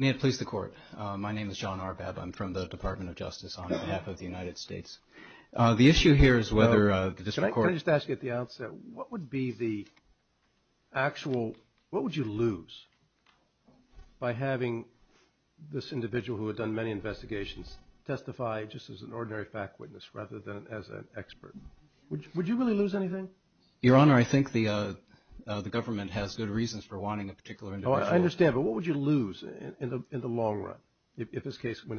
May it please the Court. My name is John Arbab. I'm from the Department of Justice on behalf of the United States. The issue here is whether the District Court – Can I just ask you at the outset, what would be the actual – what would you lose by having this individual who had done many investigations testify just as an ordinary fact witness rather than as an expert? Would you really lose anything? Your Honor, I think the government has good reasons for wanting a particular individual. I understand, but what would you lose in the long run if this case –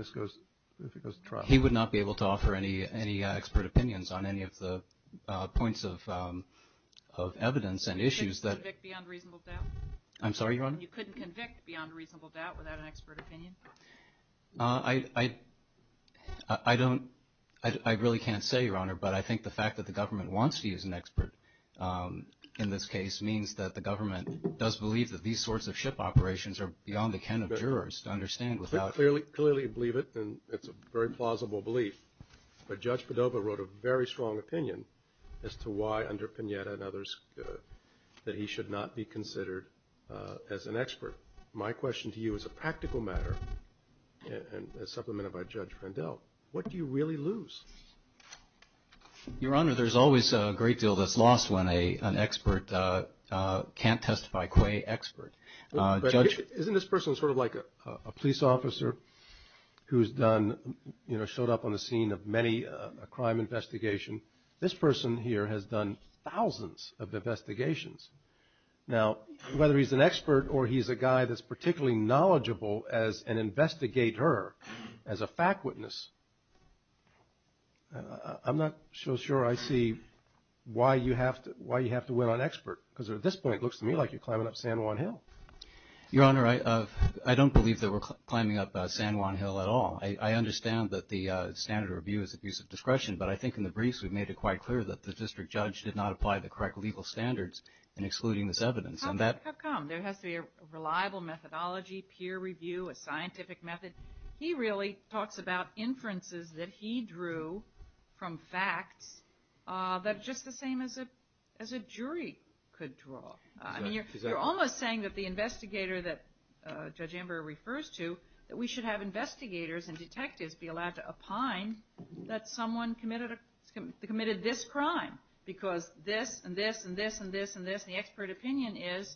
if it goes to trial? He would not be able to offer any expert opinions on any of the points of evidence and issues that – You couldn't convict beyond reasonable doubt? I'm sorry, Your Honor? You couldn't convict beyond reasonable doubt without an expert opinion? I don't – I really can't say, Your Honor, but I think the fact that the government wants to use an expert in this case means that the government does believe that these sorts of ship operations are beyond the ken of jurors to understand without – Clearly you believe it, and it's a very plausible belief, but Judge Padova wrote a very strong opinion as to why, under Pineda and others, that he should not be considered as an expert. My question to you is a practical matter, as supplemented by Judge Randell. What do you really lose? Your Honor, there's always a great deal that's lost when an expert can't testify, qua expert. Isn't this person sort of like a police officer who's done – you know, showed up on the scene of many – a crime investigation? This person here has done thousands of investigations. Now, whether he's an expert or he's a guy that's particularly knowledgeable as an investigator, as a fact witness, I'm not so sure I see why you have to win on expert, because at this point it looks to me like you're climbing up San Juan Hill. Your Honor, I don't believe that we're climbing up San Juan Hill at all. I understand that the standard of review is abuse of discretion, but I think in the briefs we've made it quite clear that the district judge did not apply the correct legal standards in excluding this evidence. How come? There has to be a reliable methodology, peer review, a scientific method. He really talks about inferences that he drew from facts that are just the same as a jury could draw. I mean, you're almost saying that the investigator that Judge Amber refers to, that we should have investigators and detectives be allowed to opine that someone committed this crime, because this and this and this and this and this. The expert opinion is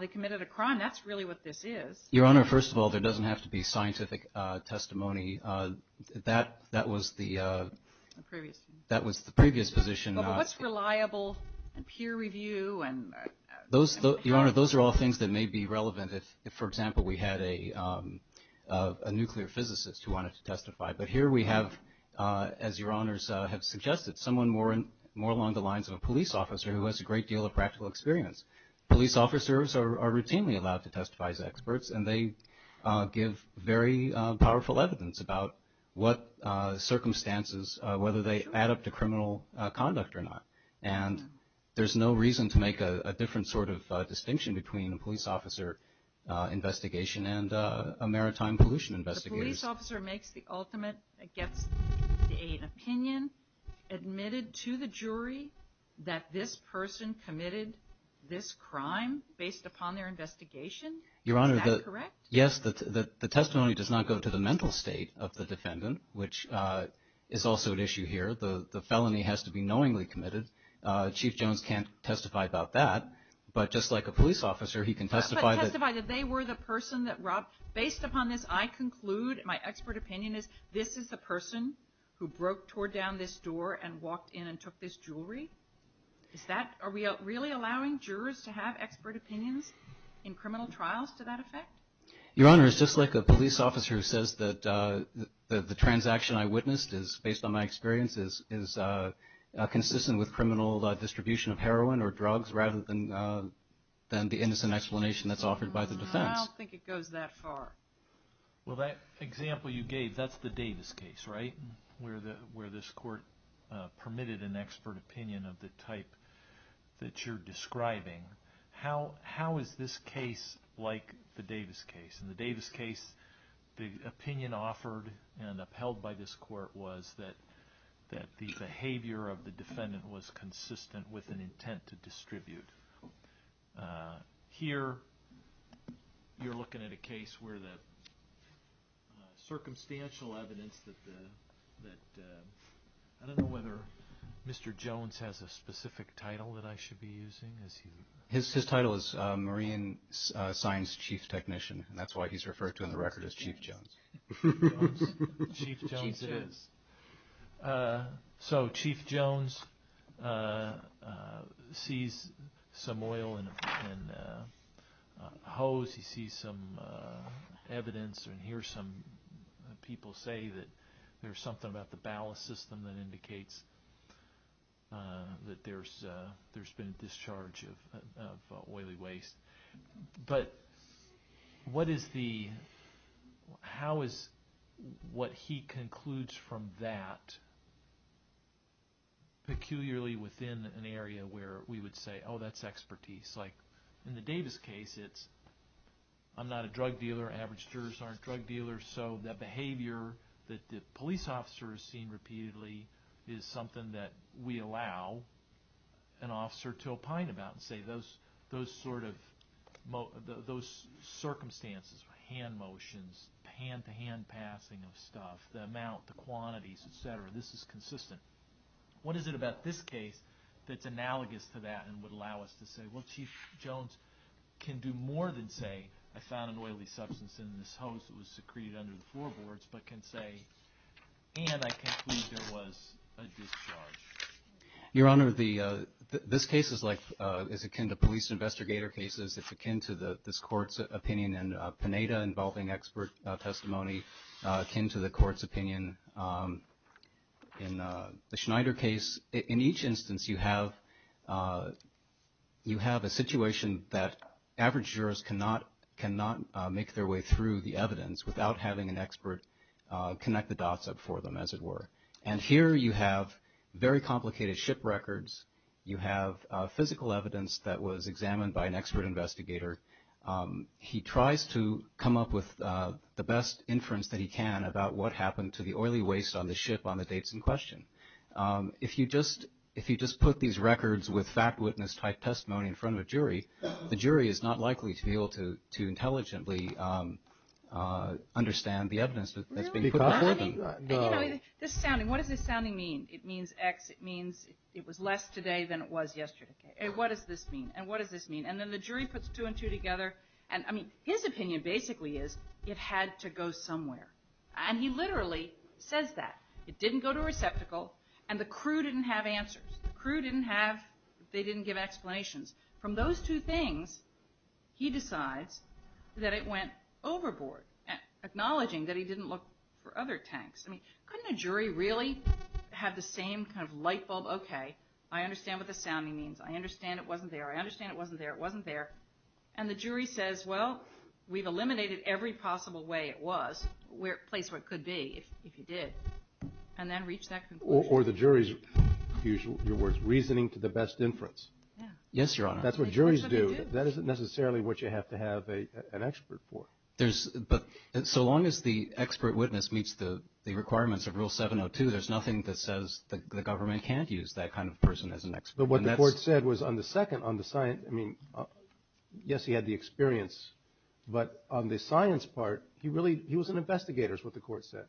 they committed a crime. That's really what this is. Your Honor, first of all, there doesn't have to be scientific testimony. That was the previous position. But what's reliable and peer review? Your Honor, those are all things that may be relevant if, for example, we had a nuclear physicist who wanted to testify. But here we have, as Your Honors have suggested, someone more along the lines of a police officer who has a great deal of practical experience. Police officers are routinely allowed to testify as experts, and they give very powerful evidence about what circumstances, whether they add up to criminal conduct or not. And there's no reason to make a different sort of distinction between a police officer investigation and a maritime pollution investigator. A police officer makes the ultimate, gets an opinion, admitted to the jury that this person committed this crime based upon their investigation? Is that correct? Yes, the testimony does not go to the mental state of the defendant, which is also an issue here. The felony has to be knowingly committed. Chief Jones can't testify about that. But just like a police officer, he can testify. He can testify that they were the person that robbed. Based upon this, I conclude my expert opinion is this is the person who broke toward down this door and walked in and took this jewelry. Are we really allowing jurors to have expert opinions in criminal trials to that effect? Your Honor, it's just like a police officer who says that the transaction I witnessed is, based on my experience, is consistent with criminal distribution of heroin or drugs rather than the innocent explanation that's offered by the defense. I don't think it goes that far. Well, that example you gave, that's the Davis case, right, where this court permitted an expert opinion of the type that you're describing. How is this case like the Davis case? In the Davis case, the opinion offered and upheld by this court was that the behavior of the defendant was consistent with an intent to distribute. Here you're looking at a case where the circumstantial evidence that the – I don't know whether Mr. Jones has a specific title that I should be using. His title is Marine Science Chief Technician. That's why he's referred to in the record as Chief Jones. Chief Jones it is. So Chief Jones sees some oil in a hose. He sees some evidence and hears some people say that there's something about the ballast system that indicates that there's been a discharge of oily waste. But what is the – how is what he concludes from that, peculiarly within an area where we would say, oh, that's expertise? Like in the Davis case, it's I'm not a drug dealer. Average jurors aren't drug dealers. So the behavior that the police officer has seen repeatedly is something that we allow an officer to opine about and say those sort of – those circumstances, hand motions, hand-to-hand passing of stuff, the amount, the quantities, et cetera, this is consistent. What is it about this case that's analogous to that and would allow us to say, well, Chief Jones can do more than say, I found an oily substance in this hose that was secreted under the floorboards, but can say, and I conclude there was a discharge. Your Honor, the – this case is like – is akin to police investigator cases. It's akin to this Court's opinion in Pineda involving expert testimony, akin to the Court's opinion in the Schneider case. In each instance, you have a situation that average jurors cannot make their way through the evidence without having an expert connect the dots for them, as it were. And here you have very complicated ship records. You have physical evidence that was examined by an expert investigator. He tries to come up with the best inference that he can about what happened to the oily waste on the ship on the dates in question. If you just – if you just put these records with fact witness type testimony in front of a jury, the jury is not likely to be able to intelligently understand the evidence that's being put before them. And, you know, this sounding – what does this sounding mean? It means X. It means it was less today than it was yesterday. What does this mean? And what does this mean? And then the jury puts two and two together, and, I mean, his opinion basically is it had to go somewhere. And he literally says that. It didn't go to a receptacle, and the crew didn't have answers. The crew didn't have – they didn't give explanations. From those two things, he decides that it went overboard, acknowledging that he didn't look for other tanks. I mean, couldn't a jury really have the same kind of light bulb? Okay, I understand what the sounding means. I understand it wasn't there. I understand it wasn't there. It wasn't there. And the jury says, well, we've eliminated every possible way it was, placed where it could be, if you did, and then reached that conclusion. Or the jury's, in your words, reasoning to the best inference. Yes, Your Honor. That's what juries do. That isn't necessarily what you have to have an expert for. There's – but so long as the expert witness meets the requirements of Rule 702, there's nothing that says the government can't use that kind of person as an expert. But what the court said was on the second, on the science – I mean, yes, he had the experience. But on the science part, he really – he was an investigator is what the court said.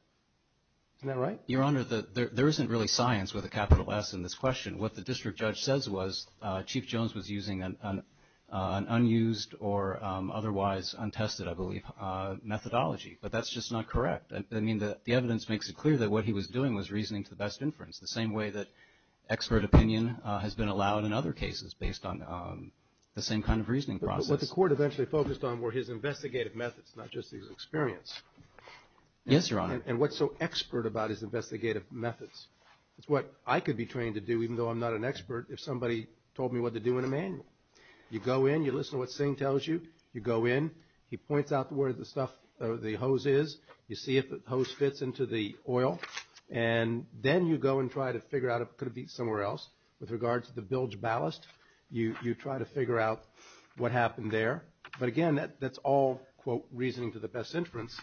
Isn't that right? Your Honor, there isn't really science with a capital S in this question. What the district judge says was Chief Jones was using an unused or otherwise untested, I believe, methodology. But that's just not correct. I mean, the evidence makes it clear that what he was doing was reasoning to the best inference, the same way that expert opinion has been allowed in other cases based on the same kind of reasoning process. But what the court eventually focused on were his investigative methods, not just his experience. Yes, Your Honor. And what's so expert about his investigative methods. It's what I could be trained to do, even though I'm not an expert, if somebody told me what to do in a manual. You go in. You listen to what Singh tells you. You go in. He points out where the stuff – the hose is. You see if the hose fits into the oil. And then you go and try to figure out if it could be somewhere else. With regards to the bilge ballast, you try to figure out what happened there. But, again, that's all, quote, reasoning to the best inference,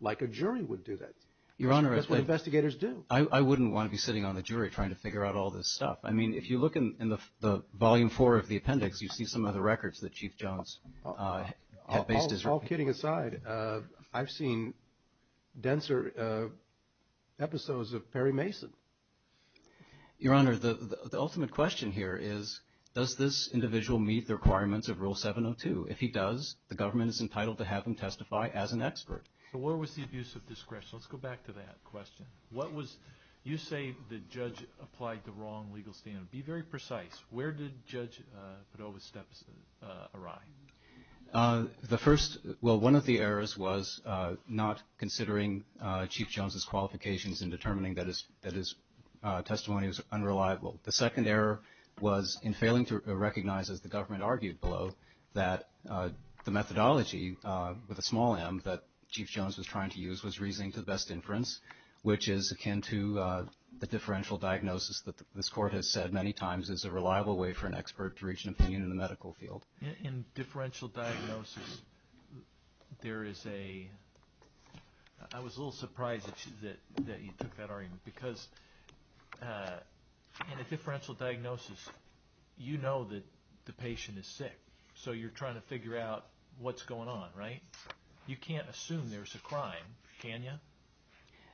like a jury would do that. Your Honor, I think – That's what investigators do. I wouldn't want to be sitting on the jury trying to figure out all this stuff. I mean, if you look in the volume four of the appendix, you see some of the records that Chief Jones had based his – All kidding aside, I've seen denser episodes of Perry Mason. Your Honor, the ultimate question here is, does this individual meet the requirements of Rule 702? If he does, the government is entitled to have him testify as an expert. So where was the abuse of discretion? Let's go back to that question. What was – you say the judge applied the wrong legal standard. Be very precise. Where did Judge Padova's steps arrive? The first – well, one of the errors was not considering Chief Jones's qualifications in determining that his testimony was unreliable. The second error was in failing to recognize, as the government argued below, that the methodology with a small m that Chief Jones was trying to use was reasoning to the best inference, which is akin to the differential diagnosis that this Court has said many times is a reliable way for an expert to reach an opinion in the medical field. In differential diagnosis, there is a – I was a little surprised that you took that argument, because in a differential diagnosis, you know that the patient is sick, so you're trying to figure out what's going on, right? You can't assume there's a crime, can you?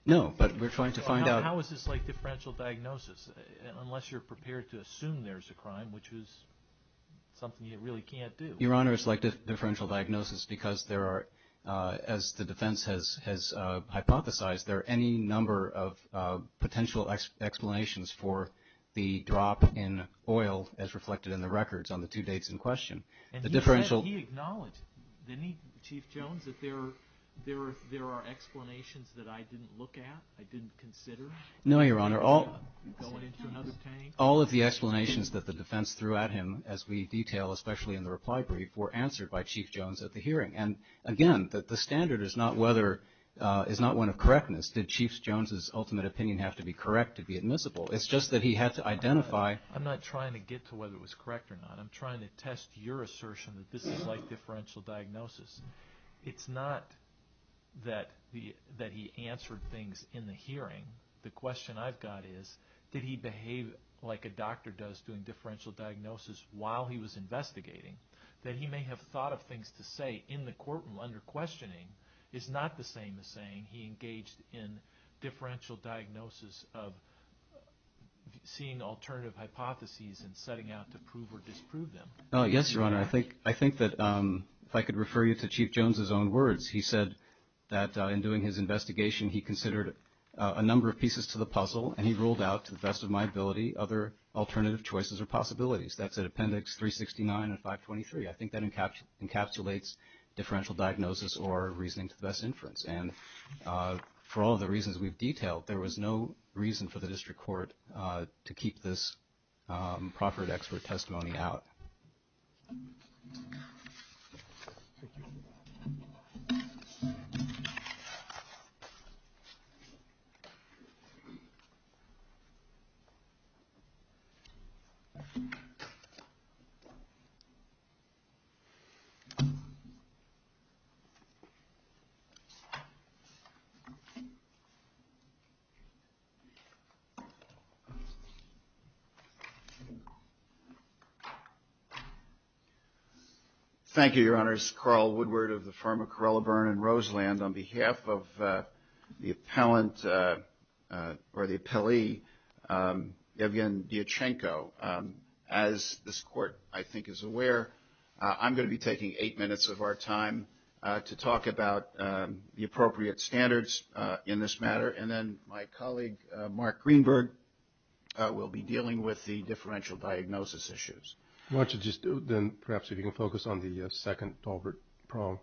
No, but we're trying to find out – How is this like differential diagnosis, unless you're prepared to assume there's a crime, which is something you really can't do? Your Honor, it's like differential diagnosis because there are – as the defense has hypothesized, there are any number of potential explanations for the drop in oil, as reflected in the records on the two dates in question. The differential – Did he acknowledge, Chief Jones, that there are explanations that I didn't look at, I didn't consider? No, Your Honor. Going into another tank? All of the explanations that the defense threw at him, as we detail, especially in the reply brief, were answered by Chief Jones at the hearing. And again, the standard is not whether – is not one of correctness. Did Chief Jones' ultimate opinion have to be correct to be admissible? It's just that he had to identify – I'm not trying to get to whether it was correct or not. I'm trying to test your assertion that this is like differential diagnosis. It's not that he answered things in the hearing. The question I've got is, did he behave like a doctor does, doing differential diagnosis while he was investigating? That he may have thought of things to say in the courtroom under questioning is not the same as saying he engaged in differential diagnosis of seeing alternative hypotheses and setting out to prove or disprove them. Yes, Your Honor. I think that, if I could refer you to Chief Jones' own words, he said that in doing his investigation he considered a number of pieces to the puzzle and he ruled out, to the best of my ability, other alternative choices or possibilities. That's at Appendix 369 and 523. I think that encapsulates differential diagnosis or reasoning to the best inference. For all the reasons we've detailed, there was no reason for the district court to keep this proffered expert testimony out. Thank you, Your Honors. Carl Woodward of the firm of Carrella, Byrne & Roseland. On behalf of the appellee, Yevgeny Diachenko, as this court, I think, is aware, I'm going to be taking eight minutes of our time to talk about the approach to differential diagnosis. in this matter, and then my colleague, Mark Greenberg, will be dealing with the differential diagnosis issues. Why don't you just, then, perhaps you can focus on the second Dalbert problem.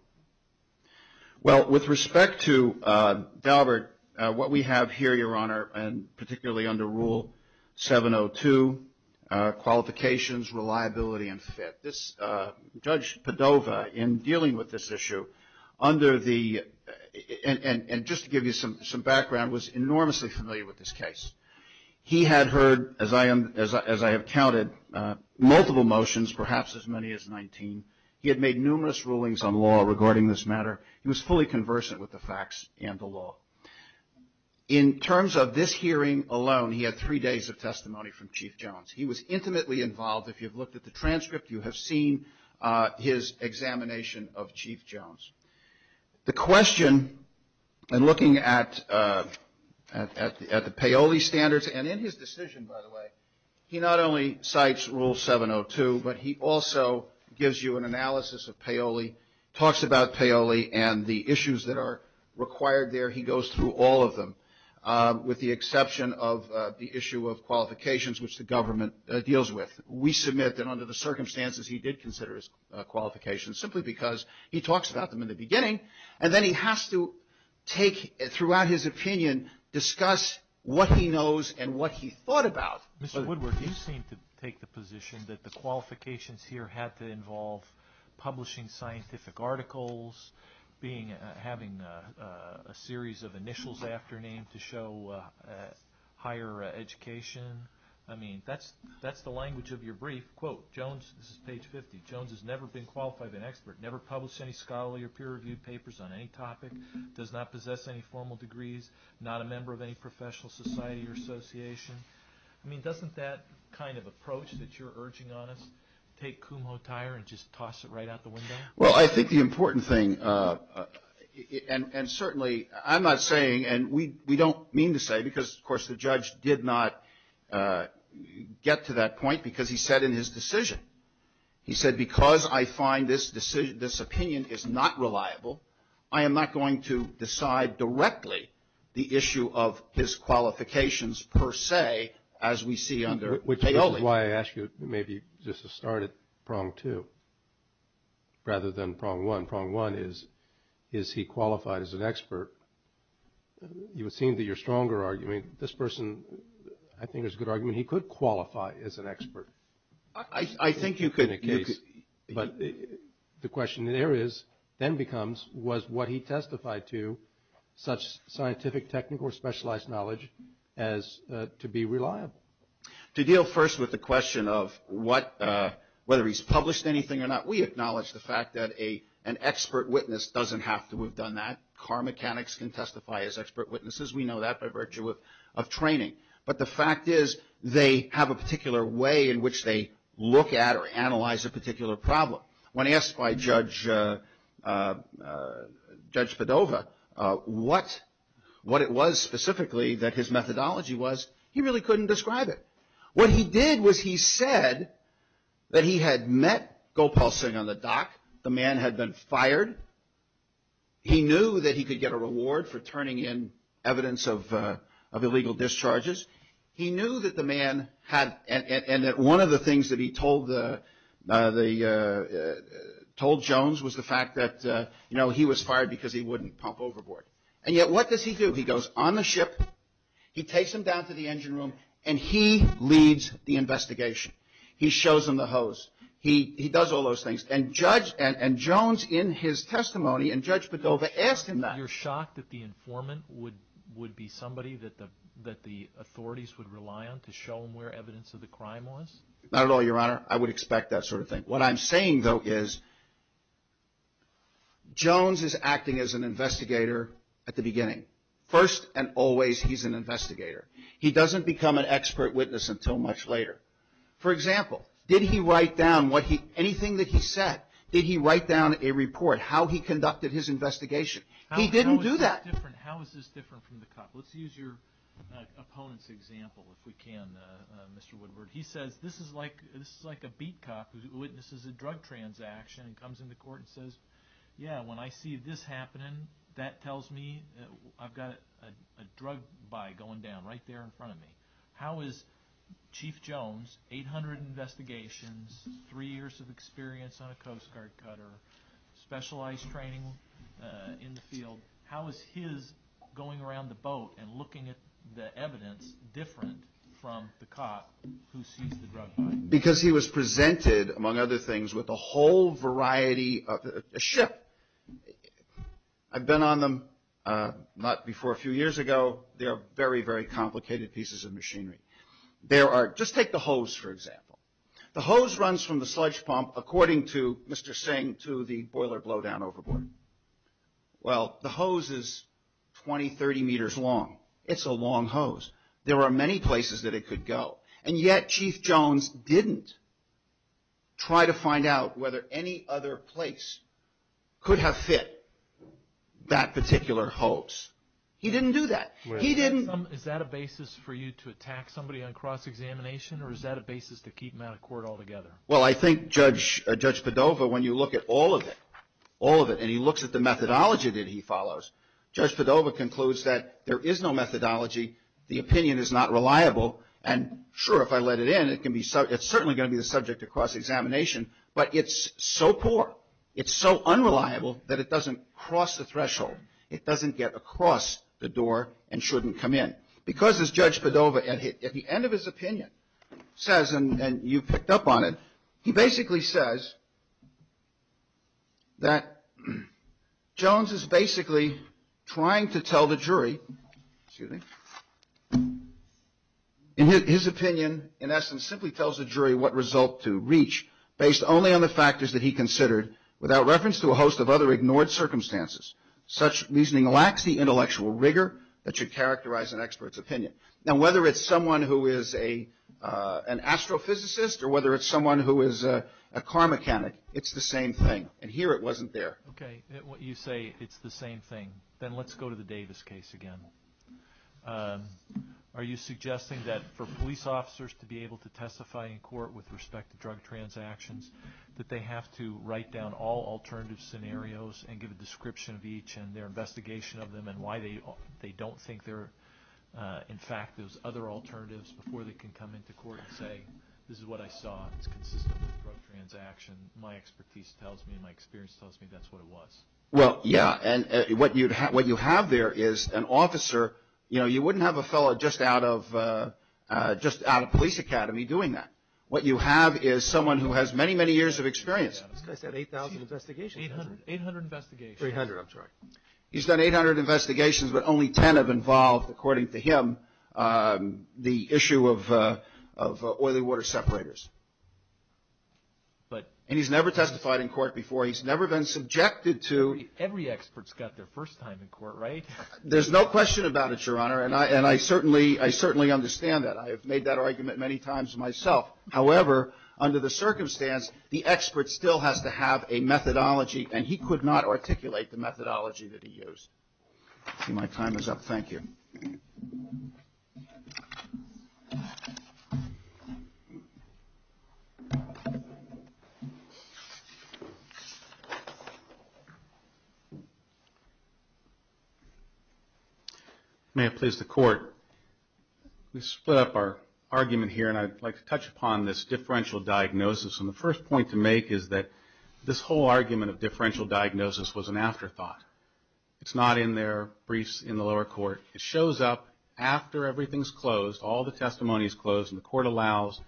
Well, with respect to Dalbert, what we have here, Your Honor, and particularly under Rule 702, qualifications, reliability, and fit. Judge Padova, in dealing with this issue, under the, and just to give you some background, was enormously familiar with this case. He had heard, as I have counted, multiple motions, perhaps as many as 19. He had made numerous rulings on law regarding this matter. He was fully conversant with the facts and the law. In terms of this hearing alone, he had three days of testimony from Chief Jones. He was intimately involved. If you've looked at the transcript, you have seen his examination of Chief Jones. The question, in looking at the Paoli standards, and in his decision, by the way, he not only cites Rule 702, but he also gives you an analysis of Paoli, talks about Paoli and the issues that are required there. He goes through all of them, with the exception of the issue of qualifications, which the government deals with. We submit that, under the circumstances, he did consider his qualifications, simply because he talks about them in the beginning, and then he has to take, throughout his opinion, discuss what he knows and what he thought about. Mr. Woodward, you seem to take the position that the qualifications here had to involve publishing scientific articles, having a series of initials after names to show higher education. I mean, that's the language of your brief. Quote, Jones, this is page 50, Jones has never been qualified as an expert, never published any scholarly or peer-reviewed papers on any topic, does not possess any formal degrees, not a member of any professional society or association. I mean, doesn't that kind of approach that you're urging on us take Kumho tire and just toss it right out the window? Well, I think the important thing, and certainly, I'm not saying, and we don't mean to say, because, of course, the judge did not get to that point, because he said in his decision, he said, because I find this opinion is not reliable, I am not going to decide directly the issue of his qualifications per se, as we see under Paoli. Which is why I ask you maybe just to start at prong two, rather than prong one. Prong one is, is he qualified as an expert? You seem to be a stronger argument. This person, I think, is a good argument. He could qualify as an expert. I think you could. But the question there is, then becomes, was what he testified to such scientific, technical, or specialized knowledge as to be reliable? To deal first with the question of whether he's published anything or not, we acknowledge the fact that an expert witness doesn't have to have done that. Car mechanics can testify as expert witnesses. We know that by virtue of training. But the fact is, they have a particular way in which they look at or analyze a particular problem. When asked by Judge Padova what it was specifically that his methodology was, he really couldn't describe it. What he did was he said that he had met Gopal Singh on the dock. The man had been fired. He knew that he could get a reward for turning in evidence of illegal discharges. He knew that the man had, and that one of the things that he told Jones was the fact that, you know, he was fired because he wouldn't pump overboard. And yet, what does he do? He goes on the ship. He takes him down to the engine room. And he leads the investigation. He shows him the hose. He does all those things. And Jones, in his testimony, and Judge Padova asked him that. You're shocked that the informant would be somebody that the authorities would rely on to show him where evidence of the crime was? Not at all, Your Honor. I would expect that sort of thing. What I'm saying, though, is Jones is acting as an investigator at the beginning. First and always, he's an investigator. He doesn't become an expert witness until much later. For example, did he write down anything that he said? Did he write down a report, how he conducted his investigation? He didn't do that. How is this different from the cop? Let's use your opponent's example, if we can, Mr. Woodward. He says, this is like a beat cop who witnesses a drug transaction and comes into court and says, yeah, when I see this happening, that tells me I've got a drug buy going down right there in front of me. How is Chief Jones, 800 investigations, three years of experience on a Coast Guard cutter, specialized training in the field, how is his going around the boat and looking at the evidence different from the cop who sees the drug buy? Because he was presented, among other things, with a whole variety of a ship. I've been on them not before a few years ago. They are very, very complicated pieces of machinery. Just take the hose, for example. The hose runs from the sludge pump, according to Mr. Singh, to the boiler blowdown overboard. Well, the hose is 20, 30 meters long. It's a long hose. There are many places that it could go. And yet Chief Jones didn't try to find out whether any other place could have fit that particular hose. He didn't do that. He didn't. Is that a basis for you to attack somebody on cross-examination or is that a basis to keep them out of court altogether? Well, I think Judge Padova, when you look at all of it, all of it, and he looks at the methodology that he follows, Judge Padova concludes that there is no methodology. The opinion is not reliable. And sure, if I let it in, it's certainly going to be the subject of cross-examination. But it's so poor, it's so unreliable that it doesn't cross the threshold. It doesn't get across the door and shouldn't come in. Because, as Judge Padova, at the end of his opinion, says, and you picked up on it, he basically says that Jones is basically trying to tell the jury, excuse me, in his opinion, in essence, simply tells the jury what result to reach based only on the factors that he considered without reference to a host of other ignored circumstances. Such reasoning lacks the intellectual rigor that should characterize an expert's opinion. Now, whether it's someone who is an astrophysicist or whether it's someone who is a car mechanic, it's the same thing. And here it wasn't there. Okay. You say it's the same thing. Then let's go to the Davis case again. Are you suggesting that for police officers to be able to testify in court with respect to drug transactions, that they have to write down all alternative scenarios and give a description of each and their investigation of them and why they don't think they're, in fact, those other alternatives before they can come into court and say, this is what I saw. It's consistent with drug transaction. My expertise tells me, my experience tells me that's what it was. Well, yeah, and what you have there is an officer, you know, you wouldn't have a fellow just out of police academy doing that. What you have is someone who has many, many years of experience. This guy's done 8,000 investigations. 800 investigations. 300, I'm sorry. He's done 800 investigations, but only 10 have involved, according to him, the issue of oily water separators. And he's never testified in court before. He's never been subjected to. Every expert's got their first time in court, right? There's no question about it, Your Honor, and I certainly understand that. I have made that argument many times myself. However, under the circumstance, the expert still has to have a methodology, and he could not articulate the methodology that he used. My time is up. Thank you. May it please the Court. We split up our argument here, and I'd like to touch upon this differential diagnosis. And the first point to make is that this whole argument of differential diagnosis was an afterthought. It's not in their briefs in the lower court. It shows up after everything's closed, all the testimony's closed, and the Court allows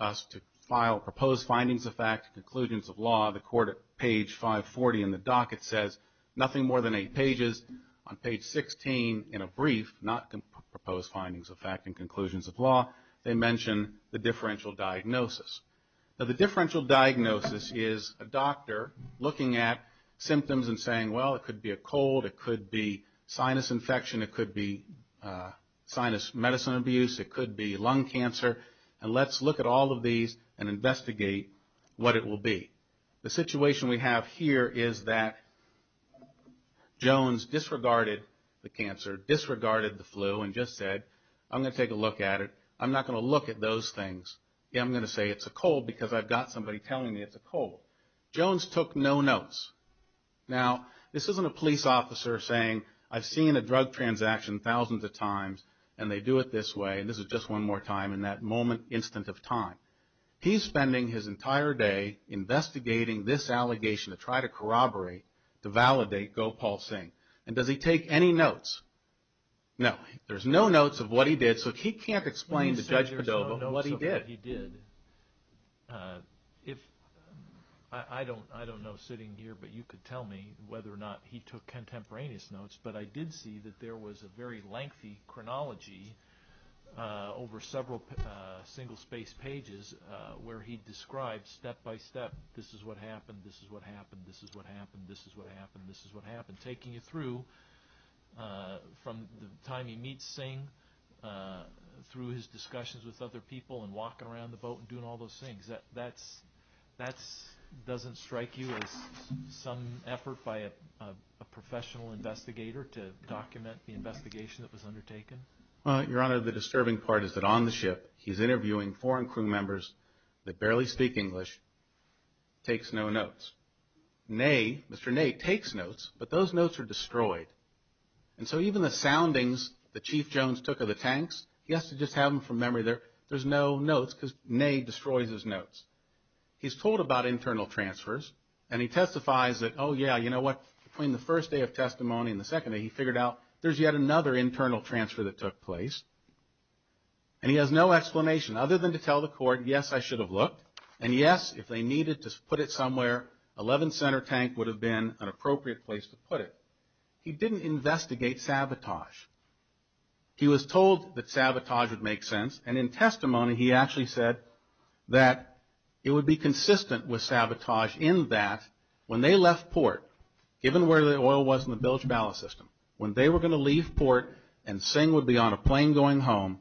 us to file proposed findings of fact, conclusions of law. The Court at page 540 in the docket says nothing more than eight pages. On page 16 in a brief, not proposed findings of fact and conclusions of law, they mention the differential diagnosis. Now, the differential diagnosis is a doctor looking at symptoms and saying, well, it could be a cold, it could be sinus infection, it could be sinus medicine abuse, it could be lung cancer, and let's look at all of these and investigate what it will be. The situation we have here is that Jones disregarded the cancer, disregarded the flu, and just said, I'm going to take a look at it. I'm not going to look at those things. I'm going to say it's a cold because I've got somebody telling me it's a cold. Jones took no notes. Now, this isn't a police officer saying, I've seen a drug transaction thousands of times, and they do it this way, and this is just one more time in that moment, instant of time. He's spending his entire day investigating this allegation to try to corroborate, to validate Gopal Singh. And does he take any notes? No. There's no notes of what he did, so he can't explain to Judge Padova what he did. I don't know sitting here, but you could tell me whether or not he took contemporaneous notes, but I did see that there was a very lengthy chronology over several single-spaced pages where he described step-by-step, this is what happened, this is what happened, this is what happened, this is what happened, this is what happened, taking you through from the time he meets Singh, through his discussions with other people, and walking around the boat and doing all those things. That doesn't strike you as some effort by a professional investigator to document the investigation that was undertaken? Your Honor, the disturbing part is that on the ship he's interviewing foreign crew members that barely speak English, takes no notes. Mr. Ney takes notes, but those notes are destroyed. And so even the soundings that Chief Jones took of the tanks, he has to just have them from memory. There's no notes because Ney destroys his notes. He's told about internal transfers, and he testifies that, oh, yeah, you know what, between the first day of testimony and the second day he figured out there's yet another internal transfer that took place. And he has no explanation other than to tell the court, yes, I should have looked, and yes, if they needed to put it somewhere, 11th Center Tank would have been an appropriate place to put it. He didn't investigate sabotage. He was told that sabotage would make sense, and in testimony he actually said that it would be consistent with sabotage in that when they left port, given where the oil was in the bilge ballast system, when they were going to leave port and Singh would be on a plane going home,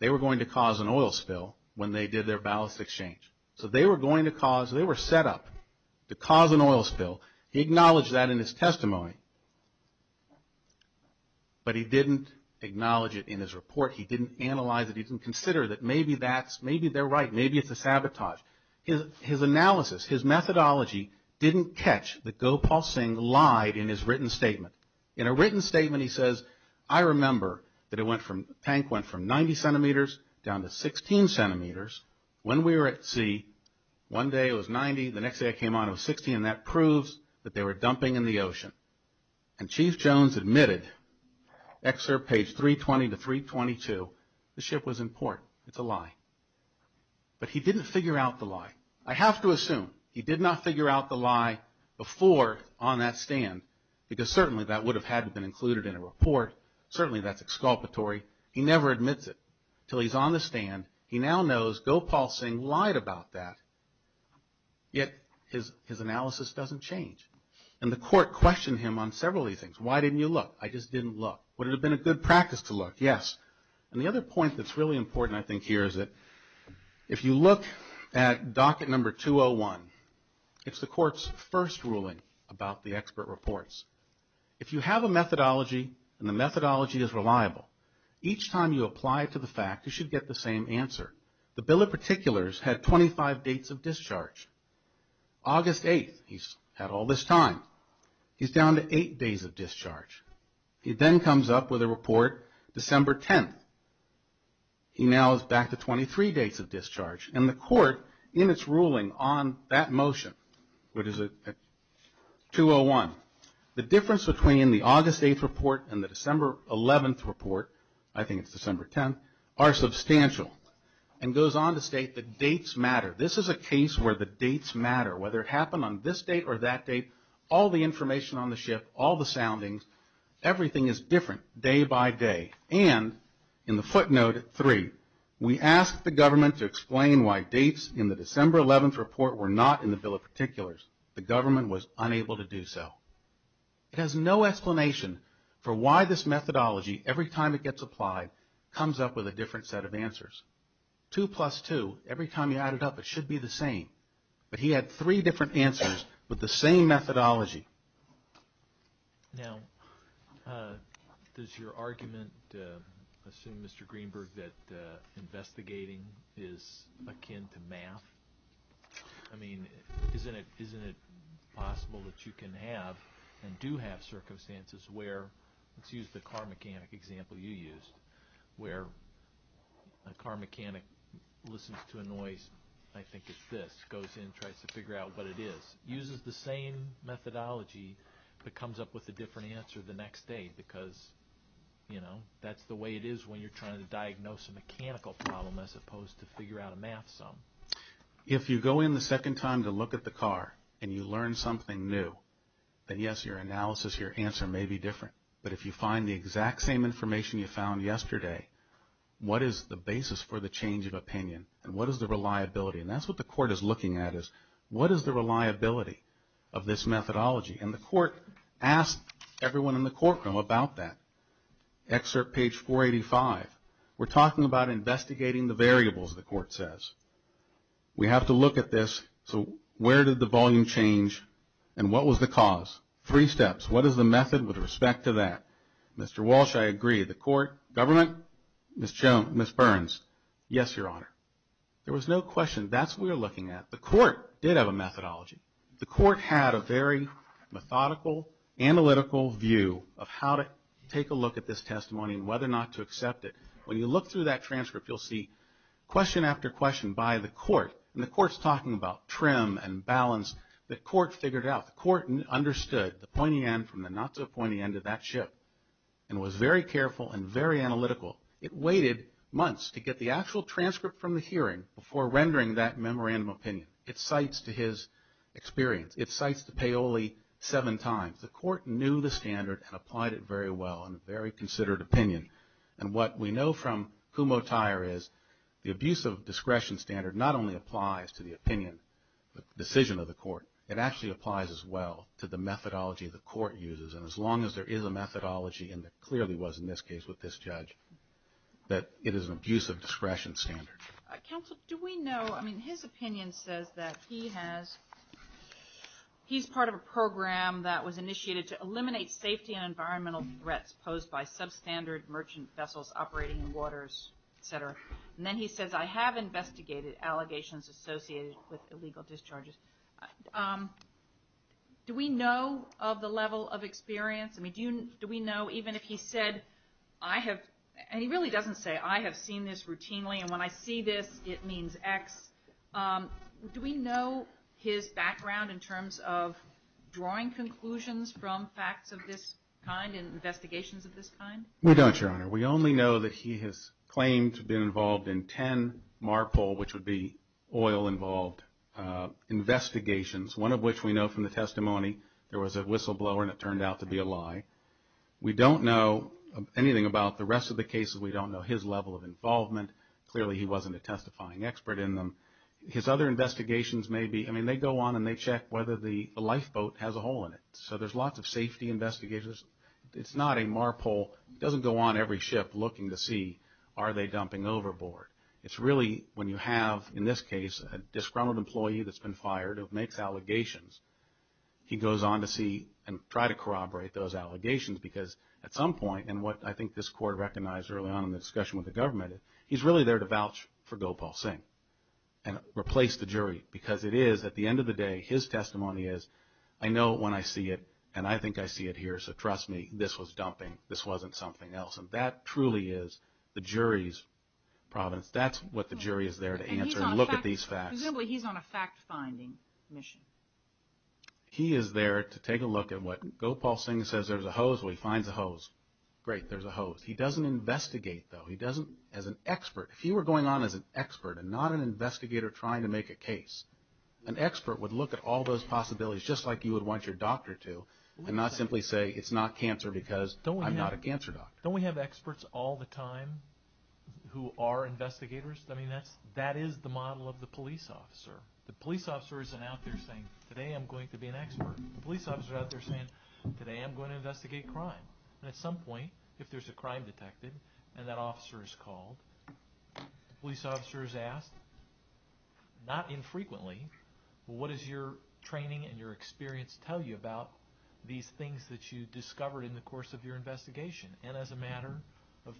they were going to cause an oil spill when they did their ballast exchange. So they were going to cause, they were set up to cause an oil spill. He acknowledged that in his testimony, but he didn't acknowledge it in his report. He didn't analyze it. He didn't consider that maybe that's, maybe they're right. Maybe it's a sabotage. His analysis, his methodology didn't catch that Gopal Singh lied in his written statement. In a written statement he says, I remember that it went from, the tank went from 90 centimeters down to 16 centimeters when we were at sea. One day it was 90, the next day it came on it was 16, and that proves that they were dumping in the ocean. And Chief Jones admitted, excerpt page 320 to 322, the ship was in port. It's a lie. But he didn't figure out the lie. I have to assume he did not figure out the lie before on that stand because certainly that would have had been included in a report. Certainly that's exculpatory. He never admits it. Until he's on the stand, he now knows Gopal Singh lied about that, yet his analysis doesn't change. And the court questioned him on several of these things. Why didn't you look? I just didn't look. Would it have been a good practice to look? Yes. And the other point that's really important I think here is that if you look at docket number 201, it's the court's first ruling about the expert reports. If you have a methodology and the methodology is reliable, each time you apply it to the fact, you should get the same answer. The bill of particulars had 25 dates of discharge. August 8th, he's had all this time. He's down to eight days of discharge. He then comes up with a report December 10th. He now is back to 23 dates of discharge. And the court in its ruling on that motion, what is it, 201, the difference between the August 8th report and the December 11th report, I think it's December 10th, are substantial. And goes on to state that dates matter. This is a case where the dates matter. Whether it happened on this date or that date, all the information on the ship, all the soundings, everything is different day by day. And in the footnote three, we asked the government to explain why dates in the December 11th report were not in the bill of particulars. The government was unable to do so. It has no explanation for why this methodology, every time it gets applied, comes up with a different set of answers. Two plus two, every time you add it up, it should be the same. But he had three different answers with the same methodology. Now, does your argument assume, Mr. Greenberg, that investigating is akin to math? I mean, isn't it possible that you can have and do have circumstances where, let's use the car mechanic example you used, where a car mechanic listens to a noise, I think it's this, goes in and tries to figure out what it is. Uses the same methodology but comes up with a different answer the next day because, you know, that's the way it is when you're trying to diagnose a mechanical problem as opposed to figure out a math sum. If you go in the second time to look at the car and you learn something new, then yes, your analysis, your answer may be different. But if you find the exact same information you found yesterday, what is the basis for the change of opinion and what is the reliability? And that's what the court is looking at is what is the reliability of this methodology? And the court asked everyone in the courtroom about that. Excerpt page 485. We're talking about investigating the variables, the court says. We have to look at this. So where did the volume change and what was the cause? Three steps. What is the method with respect to that? Mr. Walsh, I agree. The court, government, Ms. Burns, yes, Your Honor. There was no question. That's what we were looking at. The court did have a methodology. The court had a very methodical, analytical view of how to take a look at this testimony and whether or not to accept it. When you look through that transcript, you'll see question after question by the court, and the court's talking about trim and balance. The court figured it out. The court understood the pointy end from the not-so-pointy end of that ship and was very careful and very analytical. It waited months to get the actual transcript from the hearing before rendering that memorandum opinion. It cites to his experience. It cites the Paoli seven times. The court knew the standard and applied it very well in a very considered opinion. And what we know from Kumho Tyer is the abuse of discretion standard not only applies to the opinion, the decision of the court, it actually applies as well to the methodology the court uses. And as long as there is a methodology, and there clearly was in this case with this judge, that it is an abuse of discretion standard. Counsel, do we know, I mean, his opinion says that he has, he's part of a program that was initiated to eliminate safety and environmental threats posed by substandard merchant vessels operating in waters, et cetera. And then he says, I have investigated allegations associated with illegal discharges. Do we know of the level of experience? I mean, do we know even if he said, I have, and he really doesn't say, I have seen this routinely, and when I see this, it means X. Do we know his background in terms of drawing conclusions from facts of this kind and investigations of this kind? We don't, Your Honor. We only know that he has claimed to have been involved in 10 MARPOL, which would be oil-involved investigations, one of which we know from the testimony, there was a whistleblower and it turned out to be a lie. We don't know anything about the rest of the cases. We don't know his level of involvement. Clearly he wasn't a testifying expert in them. His other investigations may be, I mean, they go on and they check whether the lifeboat has a hole in it. So there's lots of safety investigations. It's not a MARPOL. It doesn't go on every ship looking to see are they dumping overboard. It's really when you have, in this case, a disgruntled employee that's been fired who makes allegations, he goes on to see and try to corroborate those allegations because at some point, and what I think this Court recognized early on in the discussion with the government, he's really there to vouch for Gopal Singh and replace the jury because it is, at the end of the day, his testimony is, I know when I see it and I think I see it here, so trust me, this was dumping. This wasn't something else. And that truly is the jury's providence. That's what the jury is there to answer and look at these facts. Presumably he's on a fact-finding mission. He is there to take a look at what Gopal Singh says there's a hose. Well, he finds a hose. Great, there's a hose. He doesn't investigate, though. He doesn't, as an expert, if you were going on as an expert and not an investigator trying to make a case, an expert would look at all those possibilities just like you would want your doctor to and not simply say it's not cancer because I'm not a cancer doctor. Don't we have experts all the time who are investigators? I mean, that is the model of the police officer. The police officer isn't out there saying, today I'm going to be an expert. The police officer is out there saying, today I'm going to investigate crime. At some point, if there's a crime detected and that officer is called, the police officer is asked, not infrequently, what does your training and your experience tell you about these things that you discovered in the course of your investigation? And as a matter of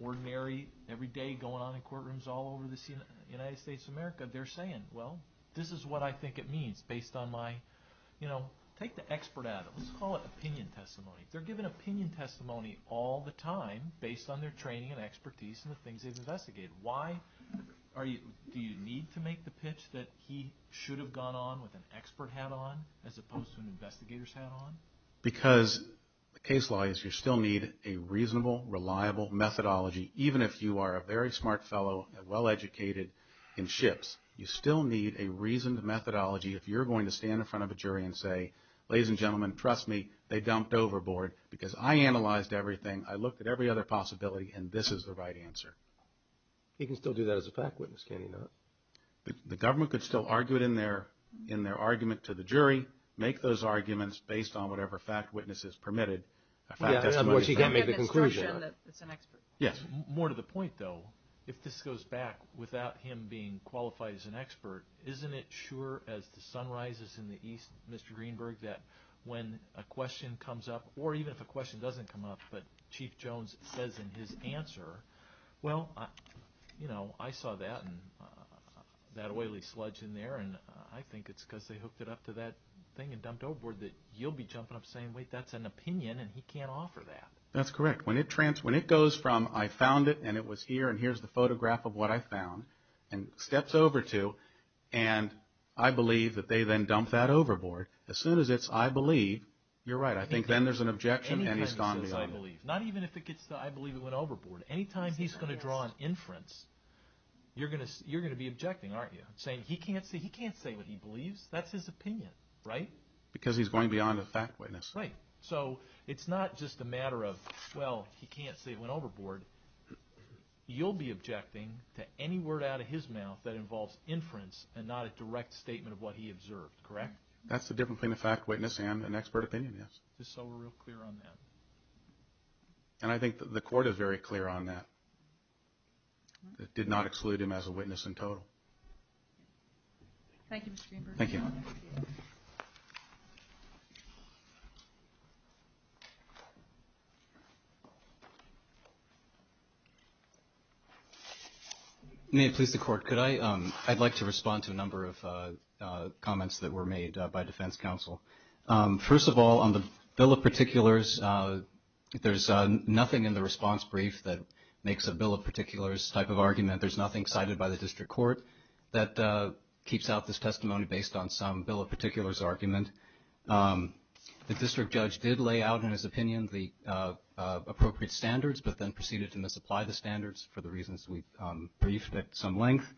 ordinary, every day going on in courtrooms all over the United States of America, they're saying, well, this is what I think it means based on my, you know, take the expert out of it. Let's call it opinion testimony. They're given opinion testimony all the time based on their training and expertise and the things they've investigated. Why do you need to make the pitch that he should have gone on with an expert hat on as opposed to an investigator's hat on? Because the case law is you still need a reasonable, reliable methodology, even if you are a very smart fellow and well-educated in ships. You still need a reasoned methodology if you're going to stand in front of a jury and say, ladies and gentlemen, trust me, they dumped overboard because I analyzed everything, I looked at every other possibility, and this is the right answer. He can still do that as a fact witness, can't he not? The government could still argue it in their argument to the jury, make those arguments based on whatever fact witness is permitted. Yeah, of course, you can't make the conclusion that it's an expert. Yes. More to the point, though, if this goes back without him being qualified as an expert, isn't it sure as the sun rises in the east, Mr. Greenberg, that when a question comes up, or even if a question doesn't come up, but Chief Jones says in his answer, well, you know, I saw that and that oily sludge in there, and I think it's because they hooked it up to that thing and dumped overboard that you'll be jumping up saying, wait, that's an opinion and he can't offer that. That's correct. When it goes from I found it and it was here and here's the photograph of what I found and steps over to and I believe that they then dump that overboard, as soon as it's I believe, you're right. I think then there's an objection and he's gone beyond. Not even if it gets to I believe it went overboard. Anytime he's going to draw an inference, you're going to be objecting, aren't you, saying he can't say what he believes. That's his opinion, right? Because he's going beyond a fact witness. Right. So it's not just a matter of, well, he can't say it went overboard. You'll be objecting to any word out of his mouth that involves inference and not a direct statement of what he observed, correct? That's the difference between a fact witness and an expert opinion, yes. Just so we're real clear on that. And I think the court is very clear on that. It did not exclude him as a witness in total. Thank you, Mr. Greenberg. Thank you. May it please the Court. Could I? I'd like to respond to a number of comments that were made by defense counsel. First of all, on the bill of particulars, there's nothing in the response brief that makes a bill of particulars type of argument. There's nothing cited by the district court that keeps out this testimony based on some bill of particulars argument. The district judge did lay out in his opinion the appropriate standards, but then proceeded to misapply the standards for the reasons we've briefed at some length.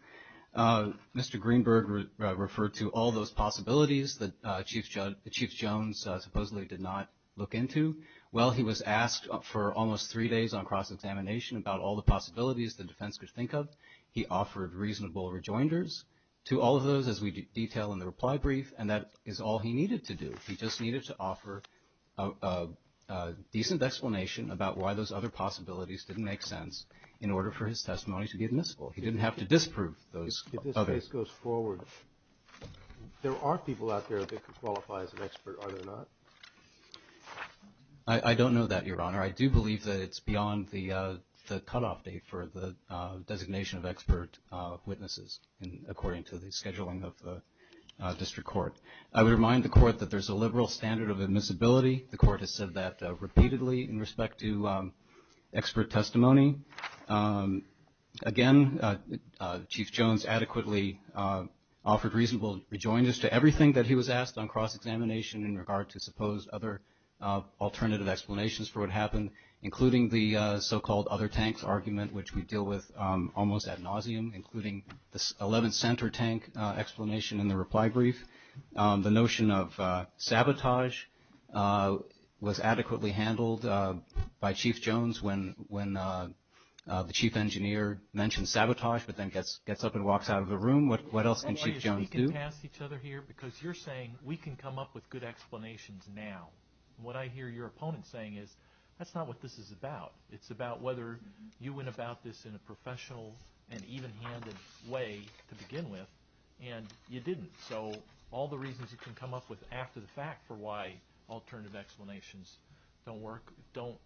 Mr. Greenberg referred to all those possibilities that Chief Jones supposedly did not look into. Well, he was asked for almost three days on cross-examination about all the possibilities the defense could think of. He offered reasonable rejoinders to all of those as we detail in the reply brief, and that is all he needed to do. He just needed to offer a decent explanation about why those other possibilities didn't make sense in order for his testimony to be admissible. He didn't have to disprove those others. If this case goes forward, there are people out there that could qualify as an expert, are there not? I don't know that, Your Honor. I do believe that it's beyond the cutoff date for the designation of expert witnesses according to the scheduling of the district court. I would remind the court that there's a liberal standard of admissibility. The court has said that repeatedly in respect to expert testimony. Again, Chief Jones adequately offered reasonable rejoinders to everything that he was asked on cross-examination in regard to supposed other alternative explanations for what happened, including the so-called other tanks argument, which we deal with almost ad nauseum, including the 11th Center tank explanation in the reply brief. The notion of sabotage was adequately handled by Chief Jones when the chief engineer mentioned sabotage, but then gets up and walks out of the room. What else can Chief Jones do? Because you're saying we can come up with good explanations now. What I hear your opponent saying is that's not what this is about. It's about whether you went about this in a professional and even-handed way to begin with, and you didn't. So all the reasons you can come up with after the fact for why alternative explanations don't work, don't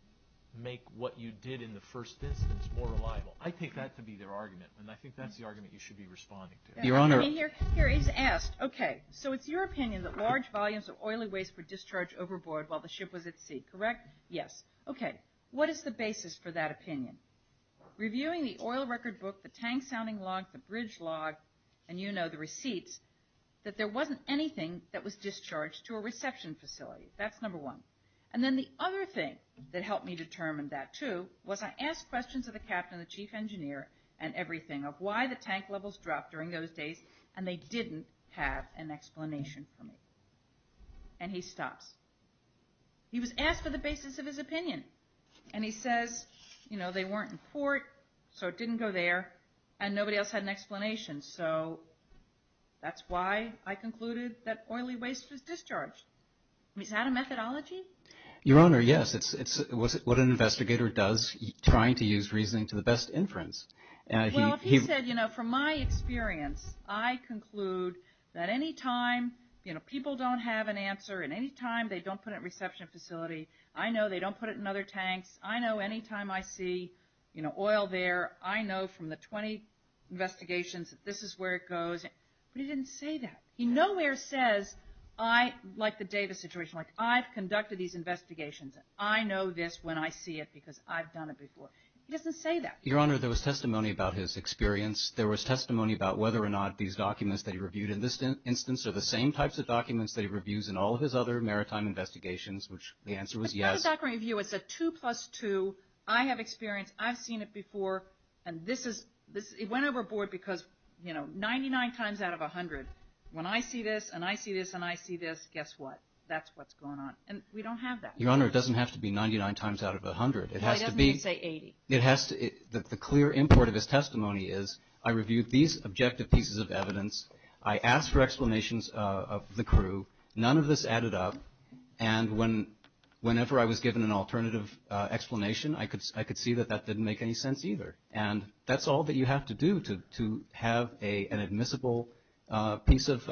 make what you did in the first instance more reliable, I take that to be their argument, and I think that's the argument you should be responding to. So it's your opinion that large volumes of oily waste were discharged overboard while the ship was at sea, correct? Yes. Okay. What is the basis for that opinion? Reviewing the oil record book, the tank sounding log, the bridge log, and you know, the receipts, that there wasn't anything that was discharged to a reception facility. That's number one. And then the other thing that helped me determine that, too, was I asked questions of the captain and the chief engineer and everything of why the tank levels dropped during those days, and they didn't have an explanation for me. And he stops. He was asked for the basis of his opinion, and he says, you know, they weren't in port, so it didn't go there, and nobody else had an explanation. So that's why I concluded that oily waste was discharged. I mean, is that a methodology? Your Honor, yes. It's what an investigator does trying to use reasoning to the best inference. Well, he said, you know, from my experience, I conclude that any time, you know, people don't have an answer and any time they don't put it in a reception facility, I know they don't put it in other tanks. I know any time I see, you know, oil there, I know from the 20 investigations that this is where it goes. But he didn't say that. He nowhere says, like the Davis situation, like I've conducted these investigations. I know this when I see it because I've done it before. He doesn't say that. Your Honor, there was testimony about his experience. There was testimony about whether or not these documents that he reviewed in this instance are the same types of documents that he reviews in all of his other maritime investigations, which the answer was yes. It's a 2 plus 2. I have experience. I've seen it before, and this is – it went overboard because, you know, 99 times out of 100, when I see this and I see this and I see this, guess what? That's what's going on. And we don't have that. Your Honor, it doesn't have to be 99 times out of 100. It has to be. It doesn't even say 80. It has to – the clear import of his testimony is I reviewed these objective pieces of evidence. I asked for explanations of the crew. None of this added up. And whenever I was given an alternative explanation, I could see that that didn't make any sense either. And that's all that you have to do to have an admissible piece of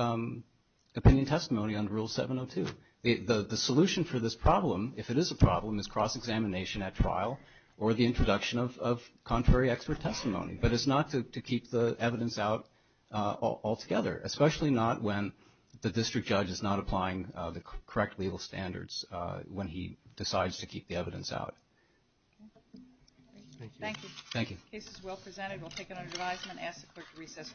opinion testimony under Rule 702. The solution for this problem, if it is a problem, is cross-examination at trial or the introduction of contrary expert testimony. But it's not to keep the evidence out altogether, especially not when the district judge is not applying the correct legal standards when he decides to keep the evidence out. Thank you. Thank you. The case is well presented. We'll take it under advisement. Ask the clerk to recess for a moment.